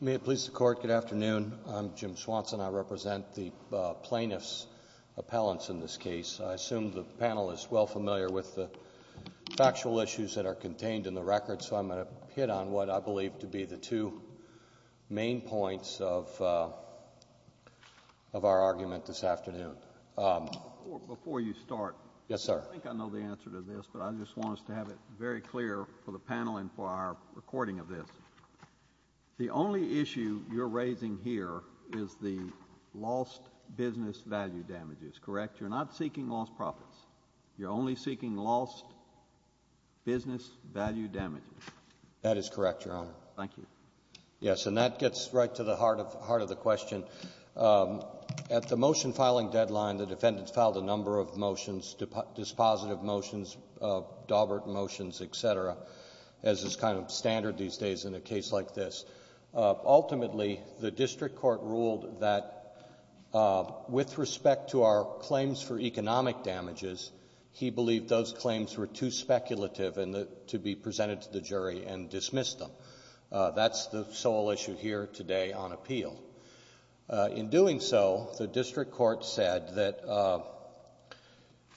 May it please the Court, good afternoon. I'm Jim Swanson. I represent the plaintiffs' appellants in this case. I assume the panel is well familiar with the factual issues that are contained in the record, so I'm going to hit on what I believe to be the two main points of our argument this afternoon. Before you start. Yes, sir. I think I know the answer to this, but I just want us to have it very clear for the panel and for our recording of this. The only issue you're raising here is the lost business value damages, correct? You're not seeking lost profits. You're only seeking lost business value damages. That is correct, Your Honor. Thank you. Yes, and that gets right to the heart of the question. At the motion-filing deadline, the defendants filed a number of motions, dispositive motions, Daubert motions, et cetera, as is kind of standard these days in a case like this. Ultimately, the district court ruled that with respect to our claims for economic damages, he believed those claims were too speculative to be presented to the jury and dismissed them. That's the sole issue here today on appeal. In doing so, the district court said that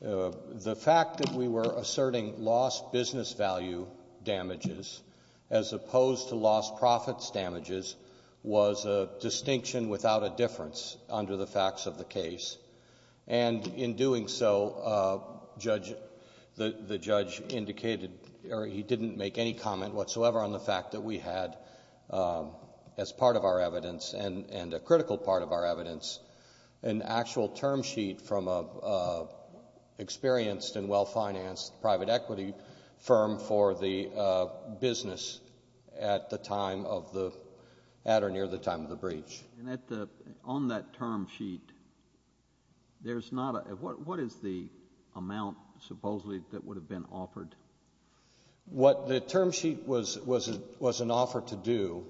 the fact that we were asserting lost business value damages as opposed to lost profits damages was a distinction without a difference under the facts of the case, and in doing so, the judge indicated or he didn't make any comment whatsoever on the fact that we had as part of our evidence and a critical part of our evidence an actual term sheet from an experienced and well-financed private equity firm for the business at the time of the breach. And on that term sheet, there's not a — what is the amount supposedly that would have been offered? What the term sheet was an offer to do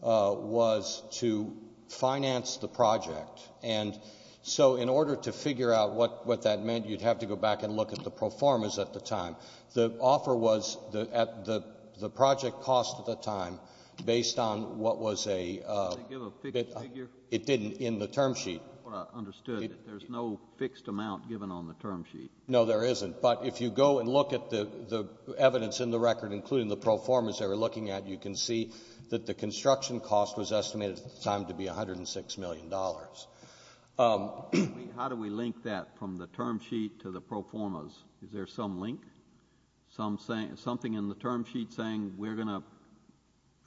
was to finance the project, and so in order to figure out what that meant, you'd have to go back and look at the pro formas at the time. The offer was at the project cost at the time, based on what was a — Did they give a fixed figure? It didn't in the term sheet. That's what I understood. There's no fixed amount given on the term sheet. No, there isn't. But if you go and look at the evidence in the record, including the pro formas they were looking at, you can see that the construction cost was estimated at the time to be $106 million. How do we link that from the term sheet to the pro formas? Is there some link? Something in the term sheet saying we're going to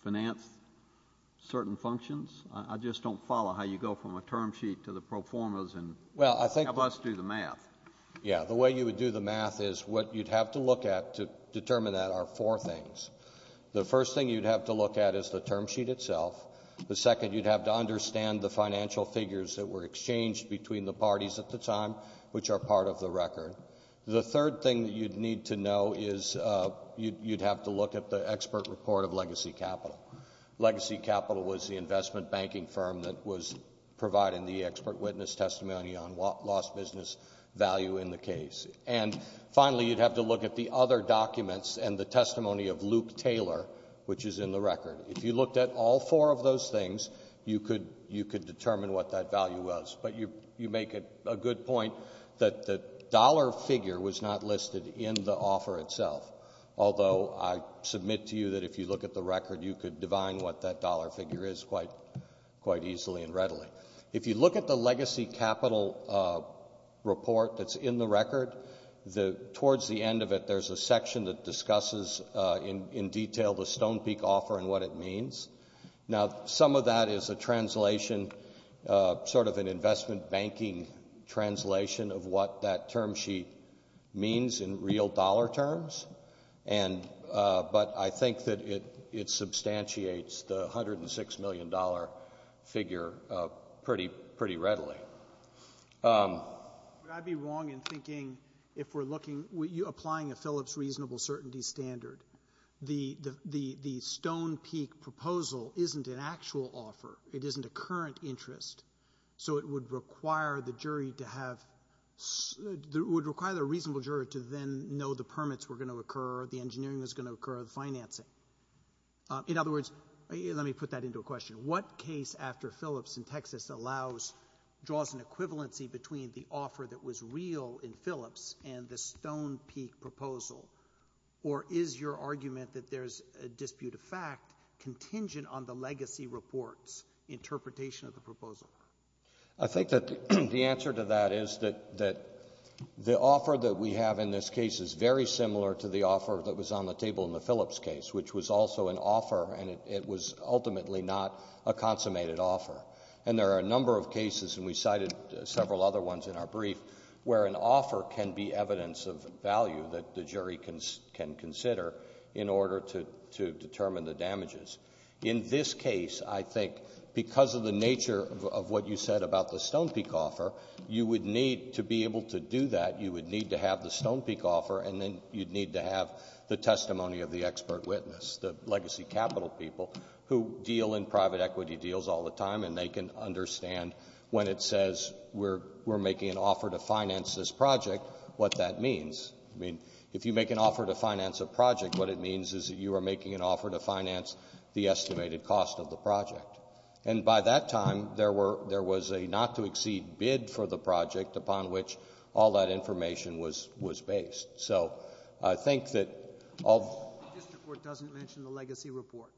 finance certain functions? I just don't follow how you go from a term sheet to the pro formas and help us do the math. Yeah. The way you would do the math is what you'd have to look at to determine that are four things. The first thing you'd have to look at is the term sheet itself. The second, you'd have to understand the financial figures that were exchanged between the parties at the time, which are part of the record. The third thing that you'd need to know is you'd have to look at the expert report of Legacy Capital. Legacy Capital was the investment banking firm that was providing the expert witness testimony on lost business value in the case. And finally, you'd have to look at the other documents and the testimony of Luke Taylor, which is in the record. If you looked at all four of those things, you could determine what that value was, but you make a good point that the dollar figure was not listed in the offer itself, although I submit to you that if you look at the record, you could divine what that dollar figure is quite easily and readily. If you look at the Legacy Capital report that's in the record, towards the end of it, there's a section that discusses in detail the Stone Peak offer and what it means. Now, some of that is a translation, sort of an investment banking translation of what that term sheet means in real dollar terms, but I think that it substantiates the $106 million figure pretty readily. Would I be wrong in thinking, if we're looking, you're applying a Phillips reasonable certainty standard, the Stone Peak proposal isn't an actual offer, it isn't a current interest, so it would require the reasonable jury to then know the permits were going to occur, the engineering was going to occur, the financing. In other words, let me put that into a question. What case after Phillips in Texas draws an equivalency between the offer that was real in Phillips and the Stone Peak proposal, or is your argument that there's a dispute of fact contingent on the Legacy report's interpretation of the proposal? I think that the answer to that is that the offer that we have in this case is very similar to the offer that was on the table in the Phillips case, which was also an offer and it was ultimately not a consummated offer. And there are a number of cases, and we cited several other ones in our brief, where an offer can be evidence of value that the jury can consider in order to determine the damages. In this case, I think, because of the nature of what you said about the Stone Peak offer, you would need to be able to do that, you would need to have the Stone Peak offer and then you'd need to have the testimony of the expert witness, the Legacy capital people who deal in private equity deals all the time and they can understand when it says, we're making an offer to finance this project, what that means. I mean, if you make an offer to finance a project, what it means is that you are making an offer to finance the estimated cost of the project. And by that time, there was a not-to-exceed bid for the project upon which all that information was based. So, I think that... The District Court doesn't mention the Legacy report?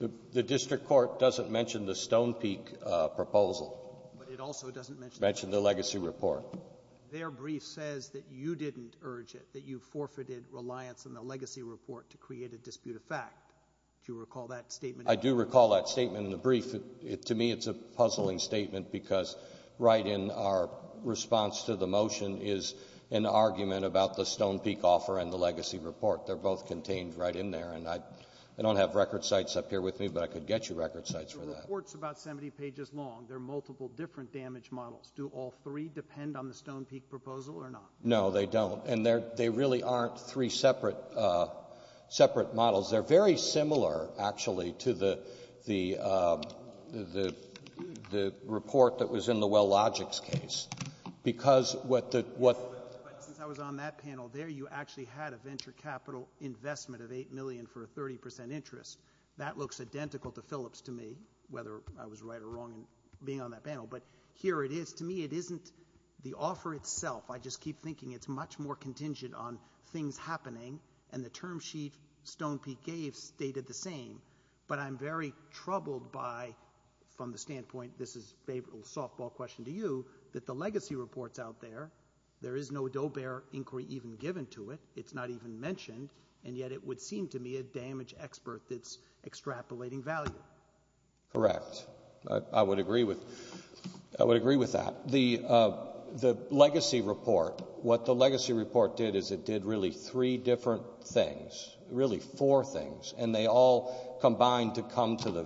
The District Court doesn't mention the Stone Peak proposal. But it also doesn't mention... Mention the Legacy report. Their brief says that you didn't urge it, that you forfeited reliance on the Legacy report to create a dispute of fact. Do you recall that statement? I do recall that statement in the brief. To me, it's a puzzling statement because right in our response to the motion is an argument about the Stone Peak offer and the Legacy report. They're both contained right in there. And I don't have record sites up here with me, but I could get you record sites for that. The report's about 70 pages long. There are multiple different damage models. Do all three depend on the Stone Peak proposal or not? No, they don't. And they really aren't three separate models. They're very similar, actually, to the report that was in the Wellogix case because what the... But since I was on that panel there, you actually had a venture capital investment of $8 million for a 30% interest. That looks identical to Phillips to me, whether I was right or wrong in being on that panel. But here it is. To me, it isn't the offer itself. I just keep thinking it's much more contingent on things happening. And the term sheet Stone Peak gave stated the same. But I'm very troubled by, from the standpoint... this is a softball question to you, that the legacy reports out there, there is no Doe-Bear inquiry even given to it. It's not even mentioned. And yet it would seem to me a damage expert that's extrapolating value. Correct. I would agree with that. The legacy report, what the legacy report did is it did really three different things, really four things. And they all combined to come to the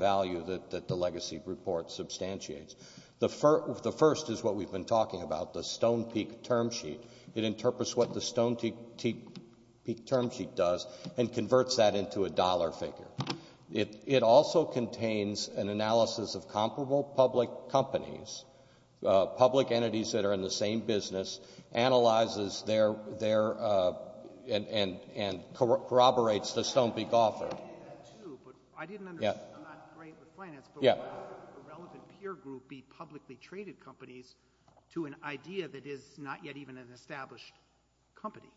first is what we've been talking about, the Stone Peak term sheet. It interprets what the Stone Peak term sheet does and converts that into a dollar figure. It also contains an analysis of comparable public companies, public entities that are in the same business, analyzes their... and corroborates the Stone Peak offer. I didn't understand, I'm not great with finance, but why would a relevant peer group be publicly traded companies to an idea that is not yet even an established company?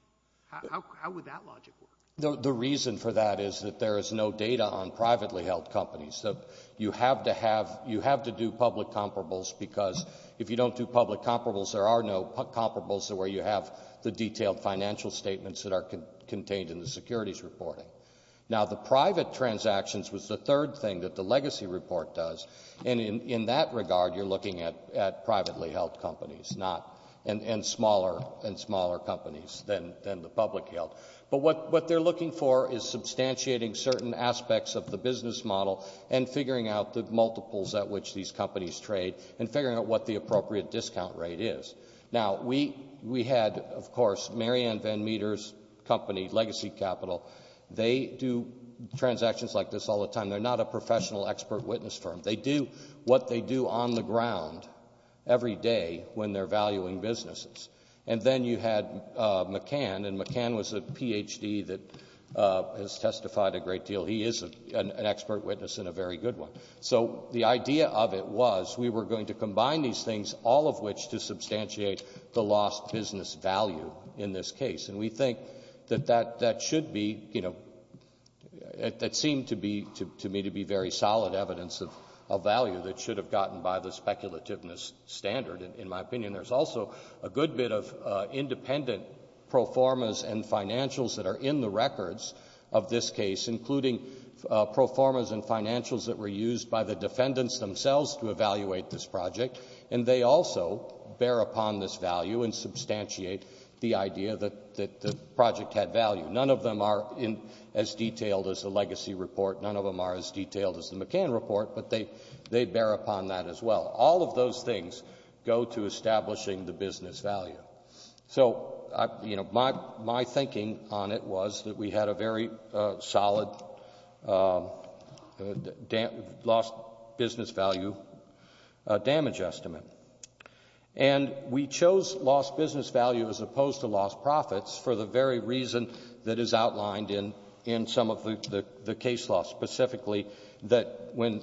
How would that logic work? The reason for that is that there is no data on privately held companies. So you have to do public comparables because if you don't do public comparables, there are no comparables where you have the detailed financial statements that are contained in the securities reporting. Now, the private transactions was the third thing that the legacy report does. And in that regard, you're looking at privately held companies and smaller and smaller companies than the public held. But what they're looking for is substantiating certain aspects of the business model and figuring out the multiples at which these companies trade and figuring out what the appropriate discount rate is. Now, we had, of course, Marianne Van Meter's company, Legacy Capital. They do transactions like this all the time. They're not a professional expert witness firm. They do what they do on the ground every day when they're valuing businesses. And then you had McCann, and McCann was a Ph.D. that has testified a great deal. He is an expert witness and a very good one. So the idea of it was we were going to combine these things, all of which to substantiate the lost business value in this case. And we think that that should be, you know, it seemed to me to be very solid evidence of value that should have gotten by the speculativeness standard, in my opinion. There's also a good bit of independent pro formas and financials that are in the records of this case, including pro formas and financials that were used by the defendants themselves to evaluate this project. And they also bear upon this value and substantiate the idea that the project had value. None of them are as detailed as the Legacy report. None of them are as detailed as the McCann report, but they bear upon that as well. All of those things go to establishing the business value. So, you know, my thinking on it was that we had a very solid lost business value damage estimate. And we chose lost business value as opposed to lost profits for the very reason that is outlined in some of the case law, specifically that when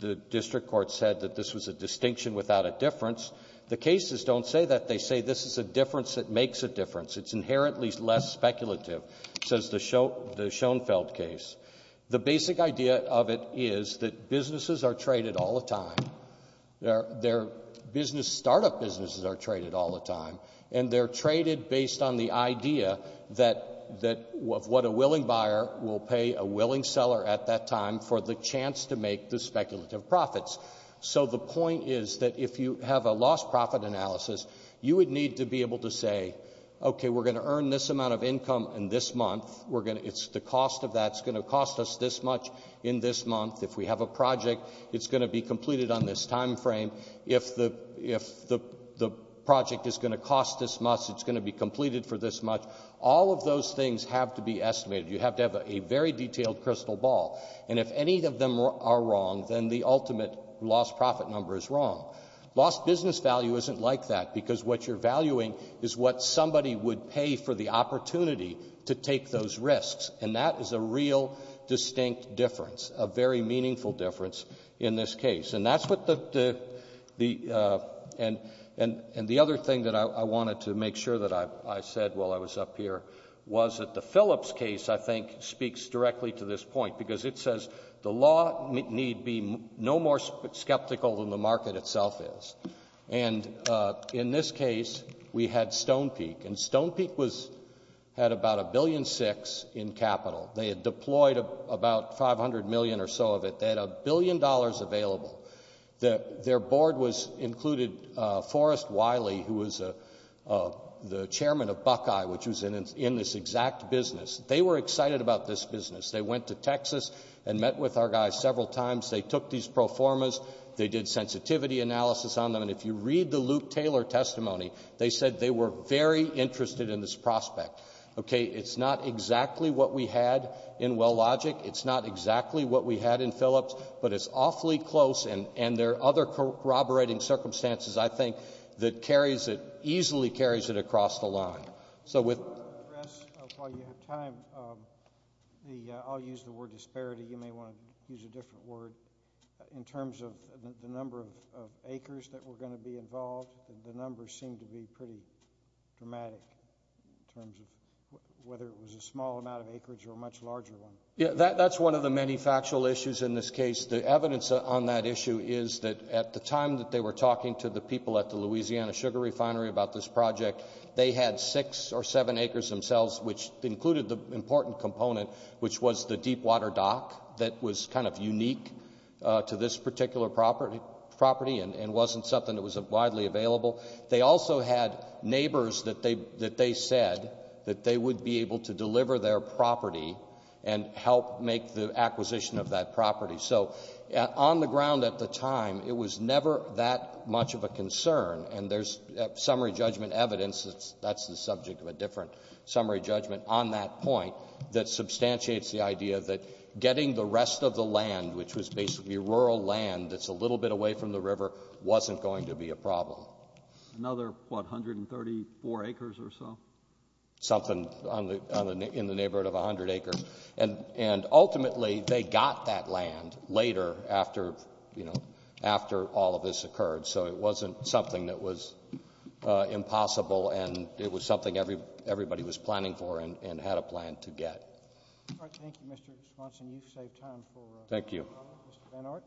the district court said that this was a distinction without a difference, the cases don't say that. They say this is a difference that makes a difference. It's inherently less speculative, says the Schoenfeld case. The basic idea of it is that businesses are traded all the time. Their business startup businesses are traded all the time. And they're traded based on the idea that what a willing buyer will pay a willing seller at that time for the chance to make the speculative profits. So the point is that if you have a lost profit analysis, you would need to be able to say, okay, we're going to earn this amount of income in this month. It's the cost of that. It's going to cost us this much in this month. If we have a project, it's going to be completed on this time frame. If the project is going to cost this much, it's going to be completed for this much. All of those things have to be estimated. You have to have a very detailed crystal ball. And if any of them are wrong, then the ultimate lost profit number is wrong. Lost business value isn't like that, because what you're valuing is what somebody would pay for the opportunity to take those risks. And that is a real distinct difference, a very meaningful difference in this case. And that's what the — and the other thing that I wanted to make sure that I said while I was up here was that the Phillips case, I think, speaks directly to this point, because it says the law need be no more skeptical than the market itself is. And in this case, we had Stone Peak. And Stone Peak was — had about $1.6 billion in capital. They had deployed about $500 million or so of it. They had $1 billion available. Their board was — included Forrest Wiley, who was the chairman of Buckeye, which was in this exact business. They were excited about this business. They went to Texas and met with our guys several times. They took these pro formas. They did sensitivity analysis on them. And if you read the Luke Taylor testimony, they said they were very interested in this prospect. Okay, it's not exactly what we had in Wellogic. It's not exactly what we had in Phillips. But it's awfully close, and there are other corroborating circumstances, I think, that carries it — easily carries it across the line. So with — While you have time, I'll use the word disparity. You may want to use a different word. In terms of the number of acres that were going to be involved, the numbers seem to be pretty dramatic in terms of whether it was a small amount of acreage or a much larger one. Yeah, that's one of the many factual issues in this case. The evidence on that issue is that at the time that they were talking to the people at the Louisiana Sugar Refinery about this project, they had six or seven acres themselves, which included the important component, which was the deepwater dock that was kind of unique to this particular property and wasn't something that was widely available. They also had neighbors that they said that they would be able to deliver their property and help make the acquisition of that property. So on the ground at the time, it was never that much of a concern. And there's summary judgment evidence — that's the subject of a different summary judgment — on that point that substantiates the idea that getting the rest of the land, which was basically rural land that's a little bit away from the river, wasn't going to be a problem. Another, what, 134 acres or so? Something in the neighborhood of 100 acres. And ultimately, they got that land later after all of this occurred. So it wasn't something that was impossible, and it was something everybody was planning for and had a plan to get. All right, thank you, Mr. Swanson. You've saved time for a follow-up. Thank you. Mr. Benhart.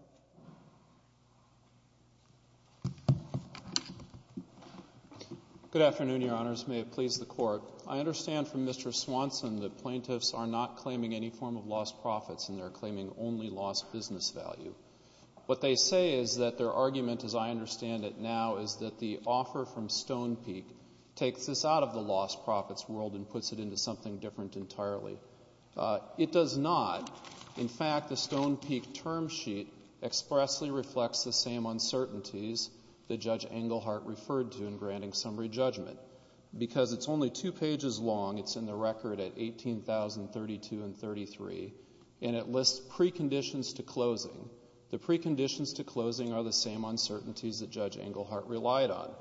Good afternoon, Your Honors. May it please the Court. I understand from Mr. Swanson that plaintiffs are not claiming any form of lost profits, and they're claiming only lost business value. What they say is that their argument, as I understand it now, is that the offer from Stone Peak takes this out of the lost profits world and puts it into something different entirely. It does not. In fact, the Stone Peak term sheet expressly reflects the same uncertainties that Judge Englehart referred to in granting summary judgment. Because it's only two pages long, it's in the record at 18,032 and 33, and it lists preconditions to closing. The preconditions to closing are the same uncertainties that Judge Englehart relied on.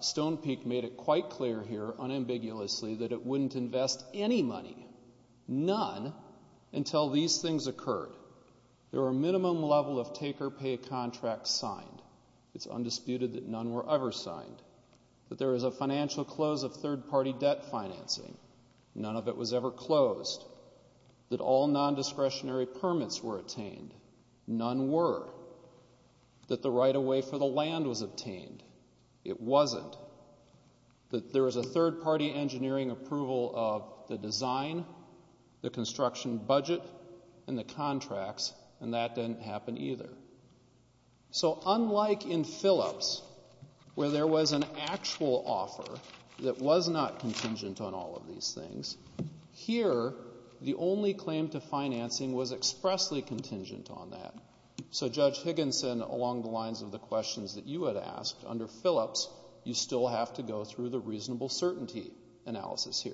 Stone Peak made it quite clear here, unambiguously, that it wouldn't invest any money, none, until these things occurred. There were a minimum level of take-or-pay contracts signed. It's undisputed that none were ever signed. That there was a financial close of third-party debt financing. None of it was ever closed. That all non-discretionary permits were attained. None were. That the right-of-way for the land was obtained. It wasn't. That there was a third-party engineering approval of the design, the construction budget, and the contracts, and that didn't happen either. So unlike in Phillips, where there was an actual offer that was not contingent on all of these things, here the only claim to financing was expressly contingent on that. So Judge Higginson, along the lines of the questions that you had asked, under Phillips, you still have to go through the reasonable certainty analysis here.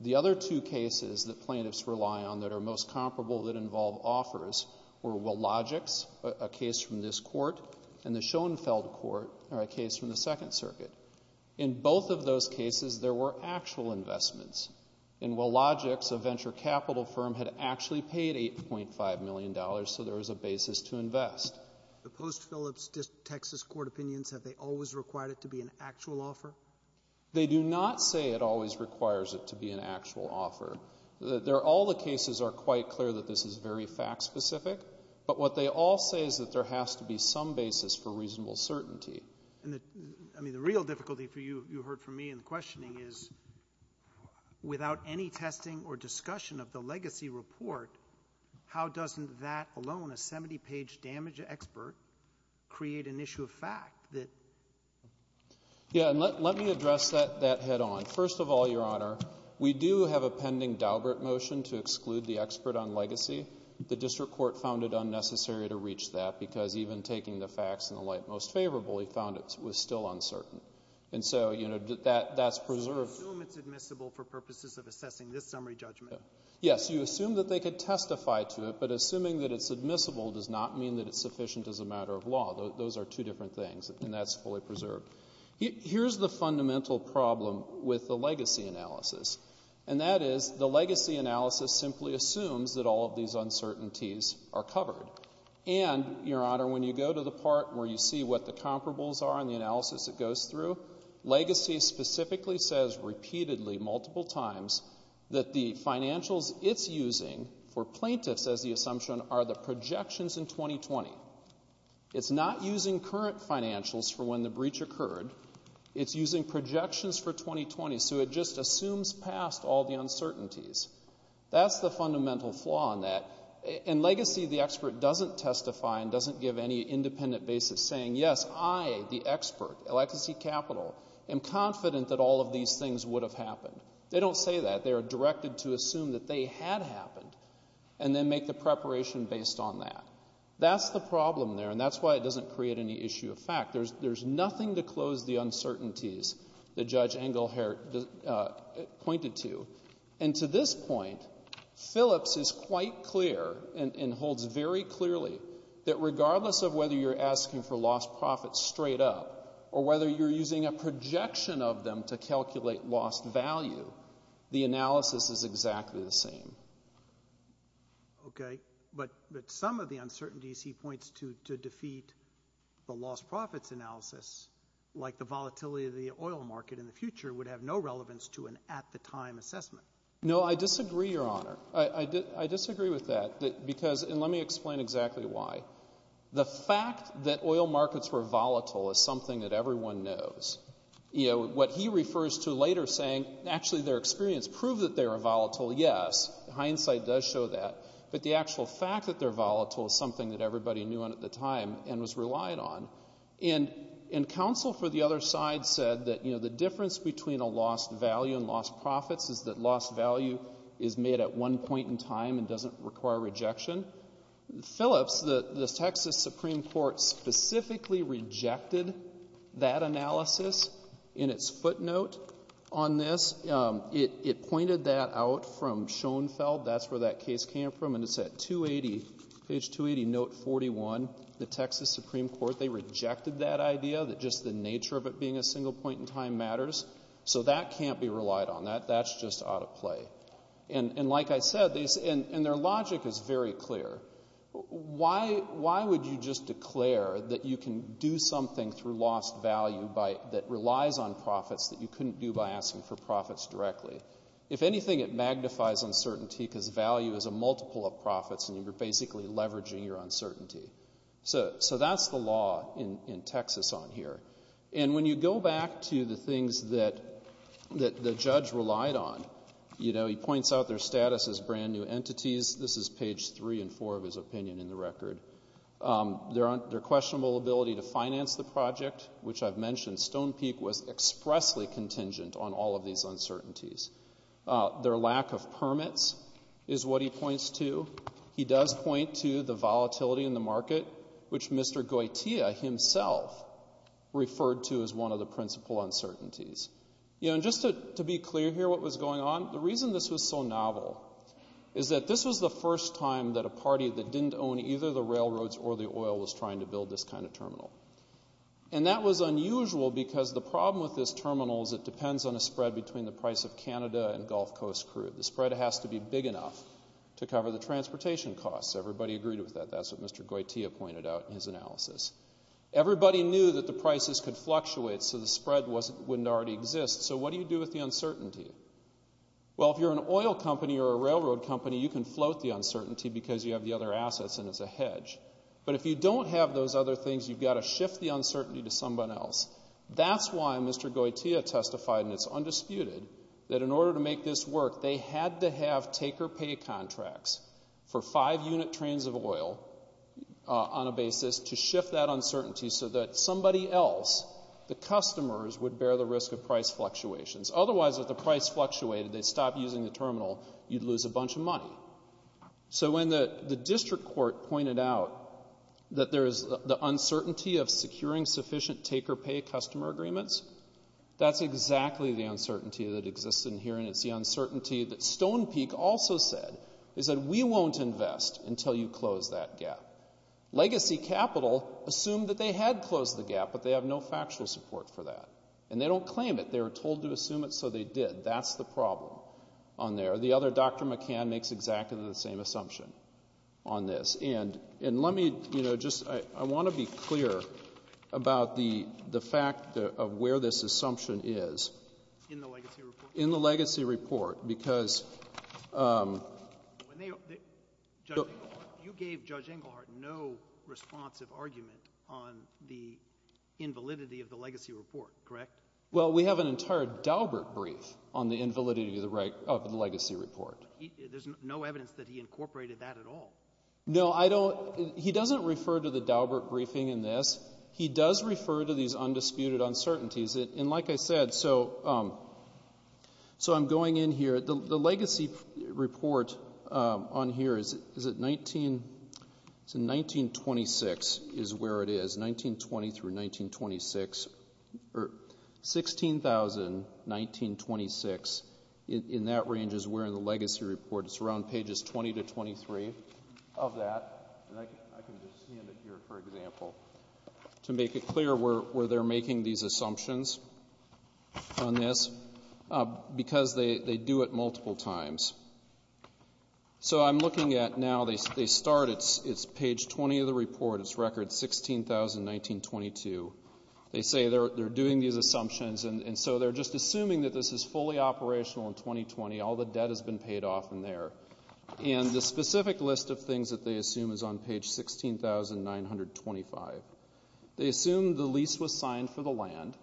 The other two cases that plaintiffs rely on that are most comparable that involve offers were Willogic's, a case from this court, and the Schoenfeld Court, a case from the Second Circuit. In both of those cases, there were actual investments. In Willogic's, a venture capital firm had actually paid $8.5 million so there was a basis to invest. The post-Phillips Texas court opinions, have they always required it to be an actual offer? They do not say it always requires it to be an actual offer. All the cases are quite clear that this is very fact-specific, but what they all say is that there has to be some basis for reasonable certainty. The real difficulty, you heard from me in the questioning, is without any testing or discussion of the legacy report, how doesn't that alone, a 70-page damage expert, create an issue of fact? Let me address that head-on. First of all, Your Honor, we do have a pending Daubert motion to exclude the expert on legacy. The district court found it unnecessary to reach that because even taking the facts in the light most favorable, he found it was still uncertain. So that's preserved. You assume it's admissible for purposes of assessing this summary judgment? Yes, you assume that they could testify to it, but assuming that it's admissible does not mean that it's sufficient as a matter of law. Those are two different things, and that's fully preserved. Here's the fundamental problem with the legacy analysis, and that is the legacy analysis simply assumes that all of these uncertainties are covered. And, Your Honor, when you go to the part where you see what the comparables are and the analysis that goes through, legacy specifically says repeatedly, multiple times, that the financials it's using for plaintiffs, as the assumption, are the projections in 2020. It's not using current financials for when the breach occurred. It's using projections for 2020. So it just assumes past all the uncertainties. That's the fundamental flaw in that. And legacy, the expert, doesn't testify and doesn't give any independent basis saying, yes, I, the expert, legacy capital, am confident that all of these things would have happened. They don't say that. They are directed to assume that they had happened and then make the preparation based on that. That's the problem there, and that's why it doesn't create any issue of fact. There's nothing to close the uncertainties that Judge Engelhardt pointed to. And to this point, Phillips is quite clear and holds very clearly that regardless of whether you're asking for lost profits straight up or whether you're using a projection of them to calculate lost value, the analysis is exactly the same. Okay, but some of the uncertainties he points to to defeat the lost profits analysis, like the volatility of the oil market in the future, would have no relevance to an at-the-time assessment. No, I disagree, Your Honor. I disagree with that because, and let me explain exactly why. The fact that oil markets were volatile is something that everyone knows. You know, what he refers to later saying, actually their experience proved that they were volatile, yes. Hindsight does show that. But the actual fact that they're volatile is something that everybody knew at the time and was relied on. And counsel for the other side said that, you know, the difference between a lost value and lost profits is that lost value is made at one point in time and doesn't require rejection. Phillips, the Texas Supreme Court, specifically rejected that analysis in its footnote on this. It pointed that out from Schoenfeld. That's where that case came from, and it's at page 280, note 41. The Texas Supreme Court, they rejected that idea, that just the nature of it being a single point in time matters. So that can't be relied on. That's just out of play. And like I said, and their logic is very clear. Why would you just declare that you can do something through lost value that relies on profits that you couldn't do by asking for profits directly? If anything, it magnifies uncertainty because value is a multiple of profits and you're basically leveraging your uncertainty. So that's the law in Texas on here. And when you go back to the things that the judge relied on, you know, he points out their status as brand-new entities. This is page 3 and 4 of his opinion in the record. Their questionable ability to finance the project, which I've mentioned Stone Peak was expressly contingent on all of these uncertainties. Their lack of permits is what he points to. He does point to the volatility in the market, which Mr. Goitea himself referred to as one of the principal uncertainties. You know, and just to be clear here what was going on, the reason this was so novel is that this was the first time that a party that didn't own either the railroads or the oil was trying to build this kind of terminal. And that was unusual because the problem with this terminal is it depends on a spread between the price of Canada and Gulf Coast crude. The spread has to be big enough to cover the transportation costs. Everybody agreed with that. That's what Mr. Goitea pointed out in his analysis. Everybody knew that the prices could fluctuate so the spread wouldn't already exist. So what do you do with the uncertainty? Well, if you're an oil company or a railroad company, you can float the uncertainty because you have the other assets and it's a hedge. But if you don't have those other things, you've got to shift the uncertainty to someone else. That's why Mr. Goitea testified, and it's undisputed, that in order to make this work, they had to have take-or-pay contracts for five unit trains of oil on a basis to shift that uncertainty so that somebody else, the customers, would bear the risk of price fluctuations. Otherwise, if the price fluctuated, they'd stop using the terminal, you'd lose a bunch of money. So when the district court pointed out that there is the uncertainty of securing sufficient take-or-pay customer agreements, that's exactly the uncertainty that exists in here, and it's the uncertainty that Stone Peak also said. They said, we won't invest until you close that gap. Legacy Capital assumed that they had closed the gap, but they have no factual support for that. And they don't claim it. They were told to assume it, so they did. That's the problem on there. The other, Dr. McCann, makes exactly the same assumption on this. And let me just, I want to be clear about the fact of where this assumption is. In the legacy report? In the legacy report. Because when they, Judge Engelhardt, you gave Judge Engelhardt no responsive argument on the invalidity of the legacy report, correct? Well, we have an entire Daubert brief on the invalidity of the legacy report. There's no evidence that he incorporated that at all. No, I don't, he doesn't refer to the Daubert briefing in this. He does refer to these undisputed uncertainties. And like I said, so I'm going in here. The legacy report on here is 1926 is where it is, 1920 through 1926, or 16,000, 1926, in that range is where the legacy report is. It's around pages 20 to 23 of that. And I can just stand it here, for example, to make it clear where they're making these assumptions on this, because they do it multiple times. So I'm looking at now, they start, it's page 20 of the report. It's record 16,000, 1922. They say they're doing these assumptions, and so they're just assuming that this is fully operational in 2020. All the debt has been paid off in there. And the specific list of things that they assume is on page 16,925. They assume the lease was signed for the land.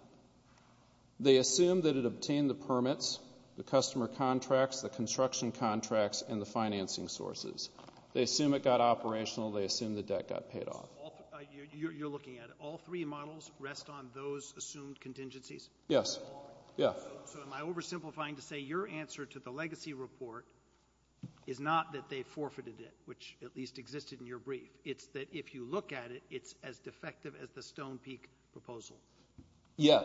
They assume that it obtained the permits, the customer contracts, the construction contracts, and the financing sources. They assume it got operational. They assume the debt got paid off. You're looking at it. All three models rest on those assumed contingencies? Yes. So am I oversimplifying to say your answer to the legacy report is not that they forfeited it, which at least existed in your brief. It's that if you look at it, it's as defective as the Stone Peak proposal. Yeah.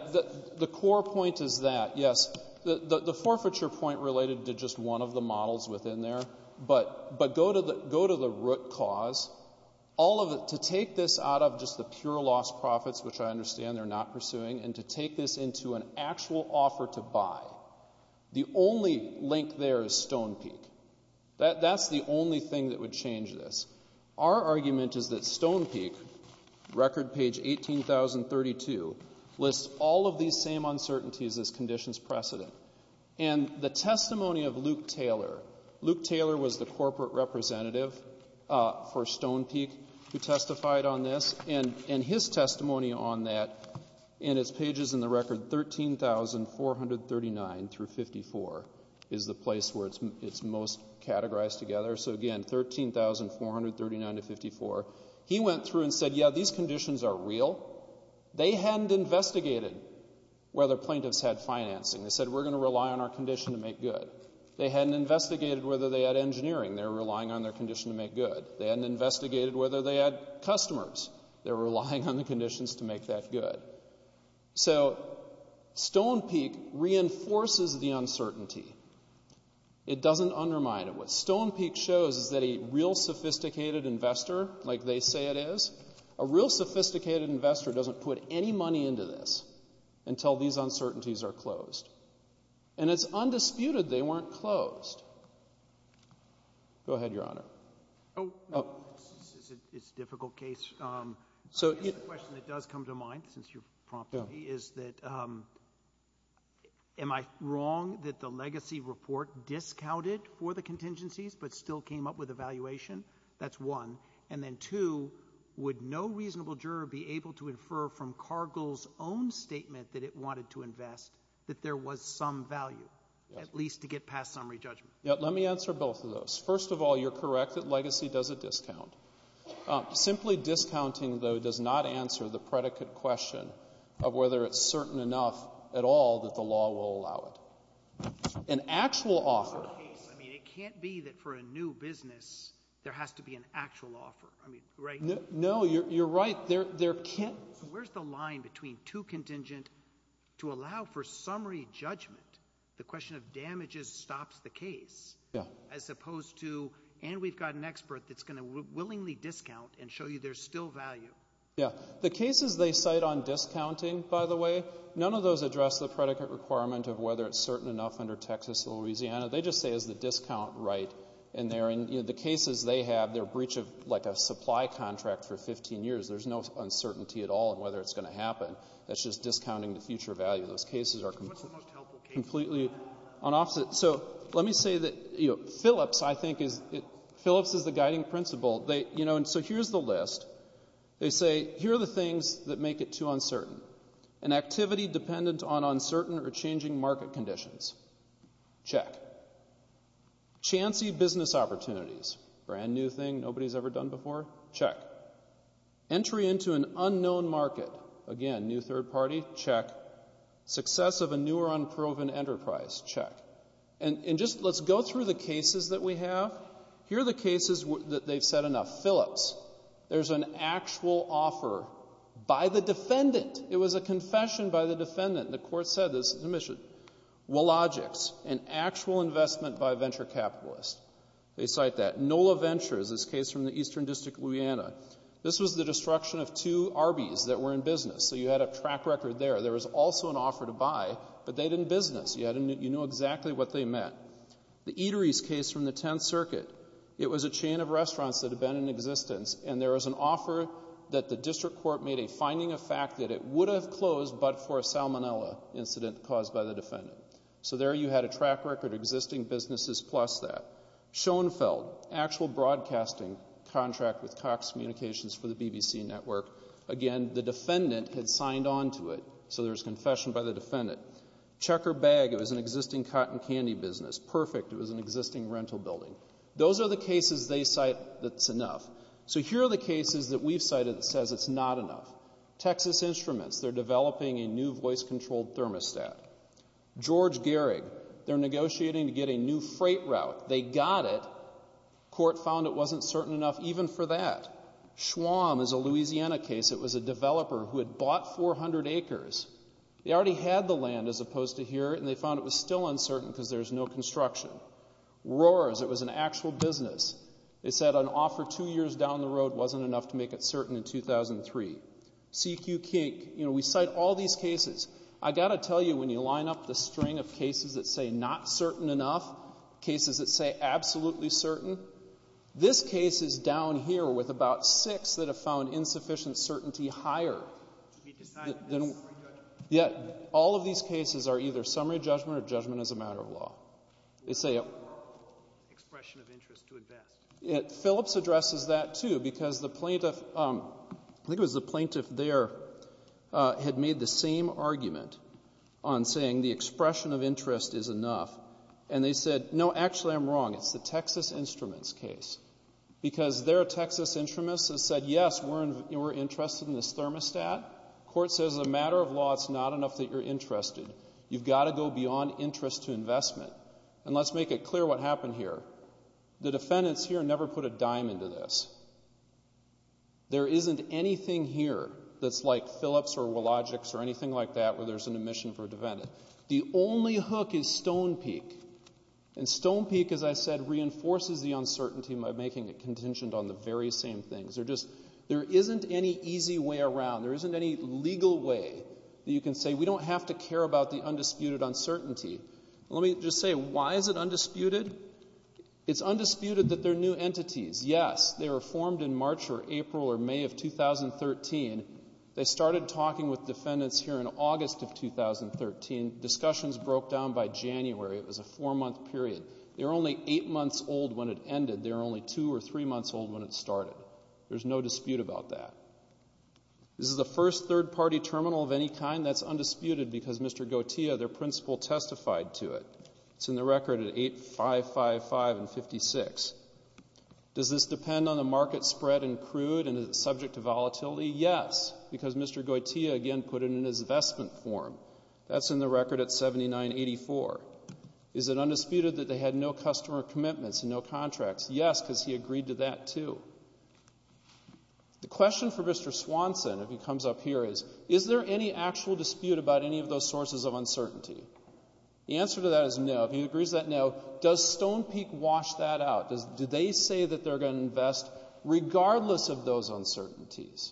The core point is that, yes. The forfeiture point related to just one of the models within there. But go to the root cause. To take this out of just the pure lost profits, which I understand they're not pursuing, and to take this into an actual offer to buy. The only link there is Stone Peak. That's the only thing that would change this. Our argument is that Stone Peak, record page 18,032, lists all of these same uncertainties as conditions precedent. And the testimony of Luke Taylor. Luke Taylor was the corporate representative for Stone Peak who testified on this. And his testimony on that, and it's pages in the record, 13,439 through 54 is the place where it's most categorized together. So, again, 13,439 to 54. He went through and said, yeah, these conditions are real. They hadn't investigated whether plaintiffs had financing. They said, we're going to rely on our condition to make good. They hadn't investigated whether they had engineering. They were relying on their condition to make good. They hadn't investigated whether they had customers. They were relying on the conditions to make that good. So Stone Peak reinforces the uncertainty. It doesn't undermine it. What Stone Peak shows is that a real sophisticated investor, like they say it is, a real sophisticated investor doesn't put any money into this until these uncertainties are closed. And it's undisputed they weren't closed. Go ahead, Your Honor. It's a difficult case. The question that does come to mind, since you prompted me, is that am I wrong that the legacy report discounted for the contingencies but still came up with a valuation? That's one. And then two, would no reasonable juror be able to infer from Cargill's own statement that it wanted to invest that there was some value, at least to get past summary judgment? Let me answer both of those. First of all, you're correct that legacy does a discount. Simply discounting, though, does not answer the predicate question of whether it's certain enough at all that the law will allow it. An actual offer. It can't be that for a new business there has to be an actual offer, right? No, you're right. Where's the line between too contingent to allow for summary judgment, the question of damages stops the case, as opposed to, and we've got an expert that's going to willingly discount and show you there's still value? Yeah. The cases they cite on discounting, by the way, none of those address the predicate requirement of whether it's certain enough under Texas or Louisiana. They just say is the discount right? And the cases they have, they're breach of like a supply contract for 15 years. There's no uncertainty at all in whether it's going to happen. That's just discounting the future value. Those cases are completely on opposite. So let me say that Phillips, I think, is the guiding principle. So here's the list. They say here are the things that make it too uncertain. An activity dependent on uncertain or changing market conditions. Check. Chancey business opportunities. Brand new thing nobody's ever done before. Check. Entry into an unknown market. Again, new third party. Check. Success of a new or unproven enterprise. Check. And just let's go through the cases that we have. Here are the cases that they've said enough. Phillips. There's an actual offer by the defendant. It was a confession by the defendant. The court said this is omission. Wilogics. An actual investment by a venture capitalist. They cite that. Nola Ventures. This case from the Eastern District of Louisiana. This was the destruction of two Arby's that were in business. So you had a track record there. There was also an offer to buy, but they didn't business. You know exactly what they meant. The Eatery's case from the 10th Circuit. It was a chain of restaurants that had been in existence, and there was an offer that the district court made a finding of fact that it would have closed but for a salmonella incident caused by the defendant. So there you had a track record of existing businesses plus that. Schoenfeld. Actual broadcasting contract with Cox Communications for the BBC Network. Again, the defendant had signed on to it, so there's confession by the defendant. Checker Bag. It was an existing cotton candy business. Perfect. It was an existing rental building. Those are the cases they cite that's enough. So here are the cases that we've cited that says it's not enough. Texas Instruments. They're developing a new voice-controlled thermostat. George Gehrig. They're negotiating to get a new freight route. They got it. Court found it wasn't certain enough even for that. Schwamm is a Louisiana case. It was a developer who had bought 400 acres. They already had the land as opposed to here, and they found it was still uncertain because there's no construction. Roars. It was an actual business. They said an offer two years down the road wasn't enough to make it certain in 2003. C.Q. King. We cite all these cases. I've got to tell you, when you line up the string of cases that say not certain enough, cases that say absolutely certain, this case is down here with about six that have found insufficient certainty higher. Yet all of these cases are either summary judgment or judgment as a matter of law. They say it works. Expression of interest to invest. Phillips addresses that, too, because the plaintiff, I think it was the plaintiff there, had made the same argument on saying the expression of interest is enough, and they said, no, actually I'm wrong. It's the Texas Instruments case because their Texas Instruments has said, yes, we're interested in this thermostat. The court says, as a matter of law, it's not enough that you're interested. You've got to go beyond interest to investment. And let's make it clear what happened here. The defendants here never put a dime into this. There isn't anything here that's like Phillips or Wologics or anything like that where there's an admission for a defendant. The only hook is Stonepeak, and Stonepeak, as I said, reinforces the uncertainty by making it contingent on the very same things. There just isn't any easy way around. There isn't any legal way that you can say, we don't have to care about the undisputed uncertainty. Let me just say, why is it undisputed? It's undisputed that they're new entities. Yes, they were formed in March or April or May of 2013. They started talking with defendants here in August of 2013. Discussions broke down by January. It was a four-month period. They were only eight months old when it ended. They were only two or three months old when it started. There's no dispute about that. This is the first third-party terminal of any kind that's undisputed because Mr. Gautia, their principal, testified to it. It's in the record at 8555 and 56. Does this depend on the market spread and crude, and is it subject to volatility? Yes, because Mr. Gautia, again, put it in his investment form. That's in the record at 7984. Is it undisputed that they had no customer commitments and no contracts? Yes, because he agreed to that too. The question for Mr. Swanson, if he comes up here, is, is there any actual dispute about any of those sources of uncertainty? The answer to that is no. If he agrees to that, no. Does Stone Peak wash that out? Do they say that they're going to invest regardless of those uncertainties?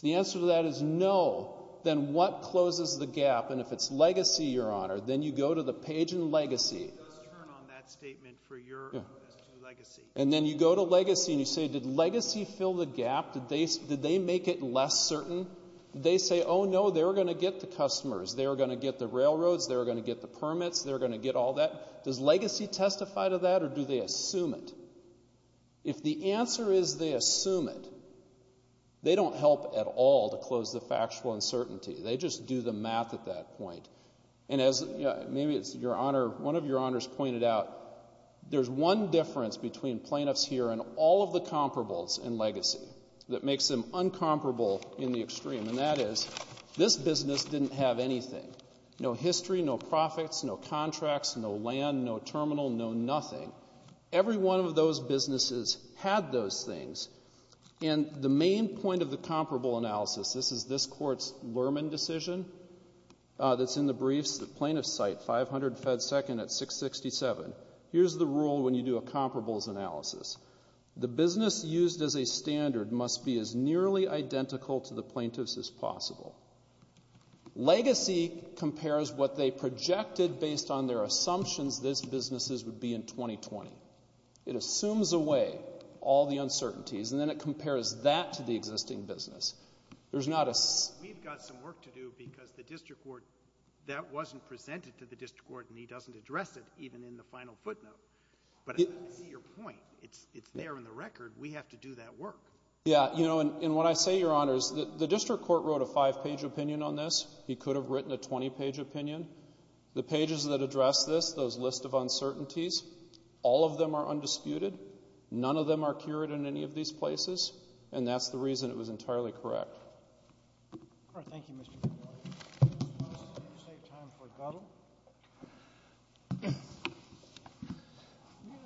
The answer to that is no. Then what closes the gap? And if it's legacy, Your Honor, then you go to the page in legacy. Let's turn on that statement for your reference to legacy. And then you go to legacy and you say, did legacy fill the gap? Did they make it less certain? Did they say, oh, no, they were going to get the customers, they were going to get the railroads, they were going to get the permits, they were going to get all that? Does legacy testify to that or do they assume it? If the answer is they assume it, they don't help at all to close the factual uncertainty. They just do the math at that point. And as maybe it's Your Honor, one of Your Honors pointed out, there's one difference between plaintiffs here and all of the comparables in legacy that makes them incomparable in the extreme, and that is this business didn't have anything. No history, no profits, no contracts, no land, no terminal, no nothing. Every one of those businesses had those things. And the main point of the comparable analysis, this is this Court's Lerman decision that's in the briefs, the plaintiffs cite 500 fed second at 667. Here's the rule when you do a comparables analysis. The business used as a standard must be as nearly identical to the plaintiffs as possible. Legacy compares what they projected based on their assumptions this business would be in 2020. It assumes away all the uncertainties, and then it compares that to the existing business. We've got some work to do because that wasn't presented to the district court and he doesn't address it even in the final footnote. But I see your point. It's there in the record. We have to do that work. Yeah, you know, and what I say, Your Honors, the district court wrote a five-page opinion on this. He could have written a 20-page opinion. The pages that address this, those list of uncertainties, all of them are undisputed. None of them are cured in any of these places, and that's the reason it was entirely correct. All right. Let's take time for Guttel.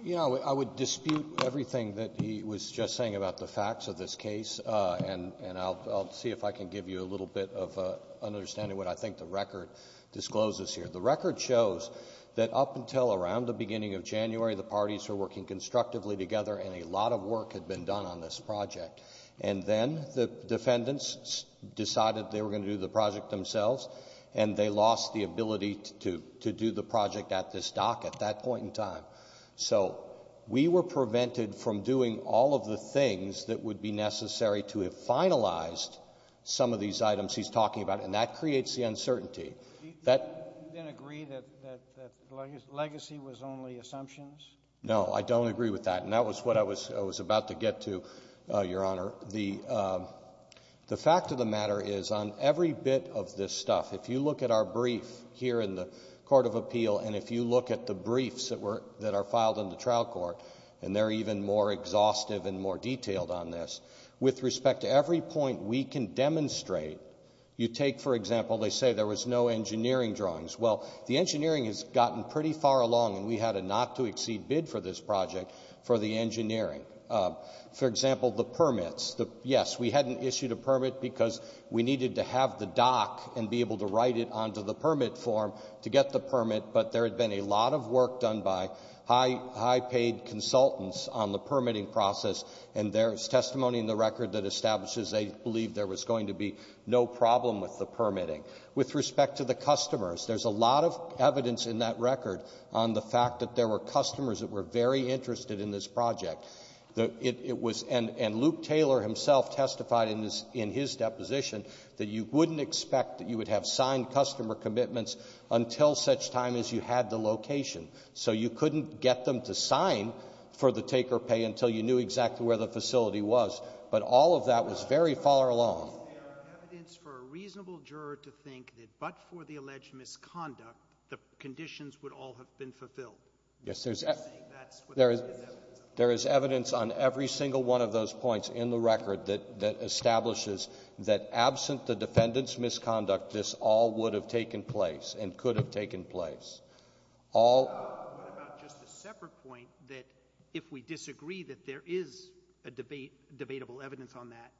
You know, I would dispute everything that he was just saying about the facts of this case, and I'll see if I can give you a little bit of an understanding of what I think the record discloses here. The record shows that up until around the beginning of January, the parties were working constructively together and a lot of work had been done on this project. And then the defendants decided they were going to do the project themselves and they lost the ability to do the project at this dock at that point in time. So we were prevented from doing all of the things that would be necessary to have finalized some of these items he's talking about, and that creates the uncertainty. Do you then agree that legacy was only assumptions? No, I don't agree with that, and that was what I was about to get to, Your Honor. The fact of the matter is on every bit of this stuff, if you look at our brief here in the Court of Appeal and if you look at the briefs that are filed in the trial court, and they're even more exhaustive and more detailed on this, with respect to every point we can demonstrate, you take, for example, they say there was no engineering drawings. Well, the engineering has gotten pretty far along and we had a not-to-exceed bid for this project for the engineering. For example, the permits. Yes, we hadn't issued a permit because we needed to have the dock and be able to write it onto the permit form to get the permit, but there had been a lot of work done by high-paid consultants on the permitting process, and there's testimony in the record that establishes they believed there was going to be no problem with the permitting. With respect to the customers, there's a lot of evidence in that record on the fact that there were customers that were very interested in this project. And Luke Taylor himself testified in his deposition that you wouldn't expect that you would have signed customer commitments until such time as you had the location. So you couldn't get them to sign for the take-or-pay until you knew exactly where the facility was. But all of that was very far along. Is there evidence for a reasonable juror to think that but for the alleged misconduct, the conditions would all have been fulfilled? Yes, there is evidence on every single one of those points in the record that establishes that absent the defendant's misconduct, this all would have taken place and could have taken place. What about just a separate point that if we disagree that there is a debatable evidence on that,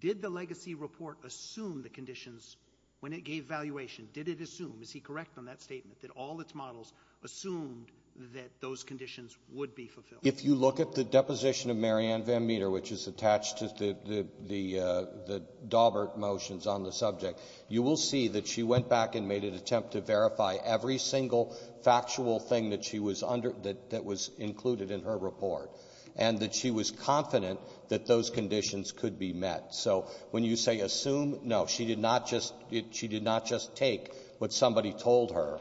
did the legacy report assume the conditions when it gave valuation? Did it assume, is he correct on that statement, that all its models assumed that those conditions would be fulfilled? If you look at the deposition of Mary Ann Van Meter, which is attached to the Daubert motions on the subject, you will see that she went back and made an attempt to verify every single factual thing that she was under — that was included in her report, and that she was confident that those conditions could be met. So when you say assume, no, she did not just take what somebody told her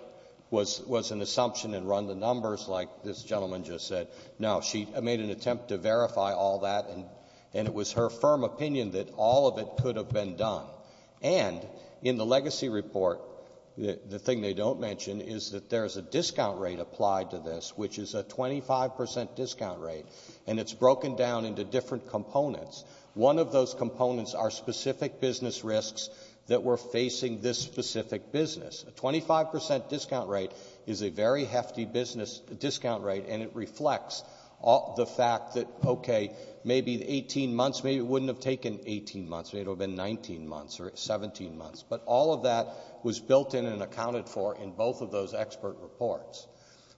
was an assumption and run the numbers like this gentleman just said. No, she made an attempt to verify all that, and it was her firm opinion that all of it could have been done. And in the legacy report, the thing they don't mention is that there is a discount rate applied to this, which is a 25 percent discount rate, and it's broken down into different components. One of those components are specific business risks that were facing this specific business. A 25 percent discount rate is a very hefty discount rate, and it reflects the fact that, okay, maybe 18 months, maybe it wouldn't have taken 18 months. Maybe it would have been 19 months or 17 months. But all of that was built in and accounted for in both of those expert reports.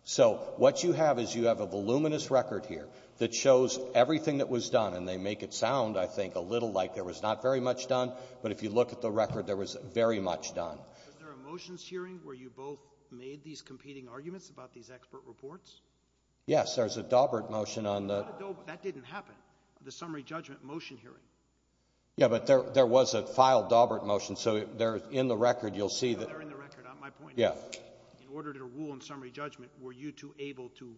So what you have is you have a voluminous record here that shows everything that was done, and they make it sound, I think, a little like there was not very much done, but if you look at the record, there was very much done. Was there a motions hearing where you both made these competing arguments about these expert reports? Yes, there was a Daubert motion on the— That didn't happen, the summary judgment motion hearing. Yeah, but there was a filed Daubert motion, so they're in the record. They're in the record. My point is in order to rule in summary judgment, were you two able to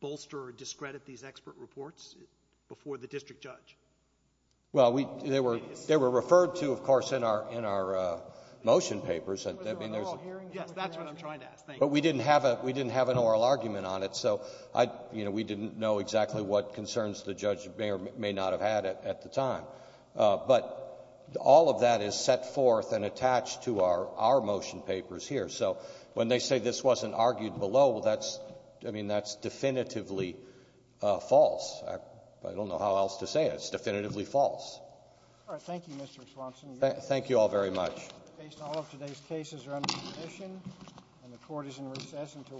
bolster or discredit these expert reports before the district judge? Well, they were referred to, of course, in our motion papers. Yes, that's what I'm trying to ask. But we didn't have an oral argument on it, so we didn't know exactly what concerns the judge may or may not have had at the time. But all of that is set forth and attached to our motion papers here. So when they say this wasn't argued below, well, that's, I mean, that's definitively false. I don't know how else to say it. It's definitively false. All right. Thank you, Mr. Swanson. Thank you all very much. Based all of today's cases are under submission, and the Court is in recess until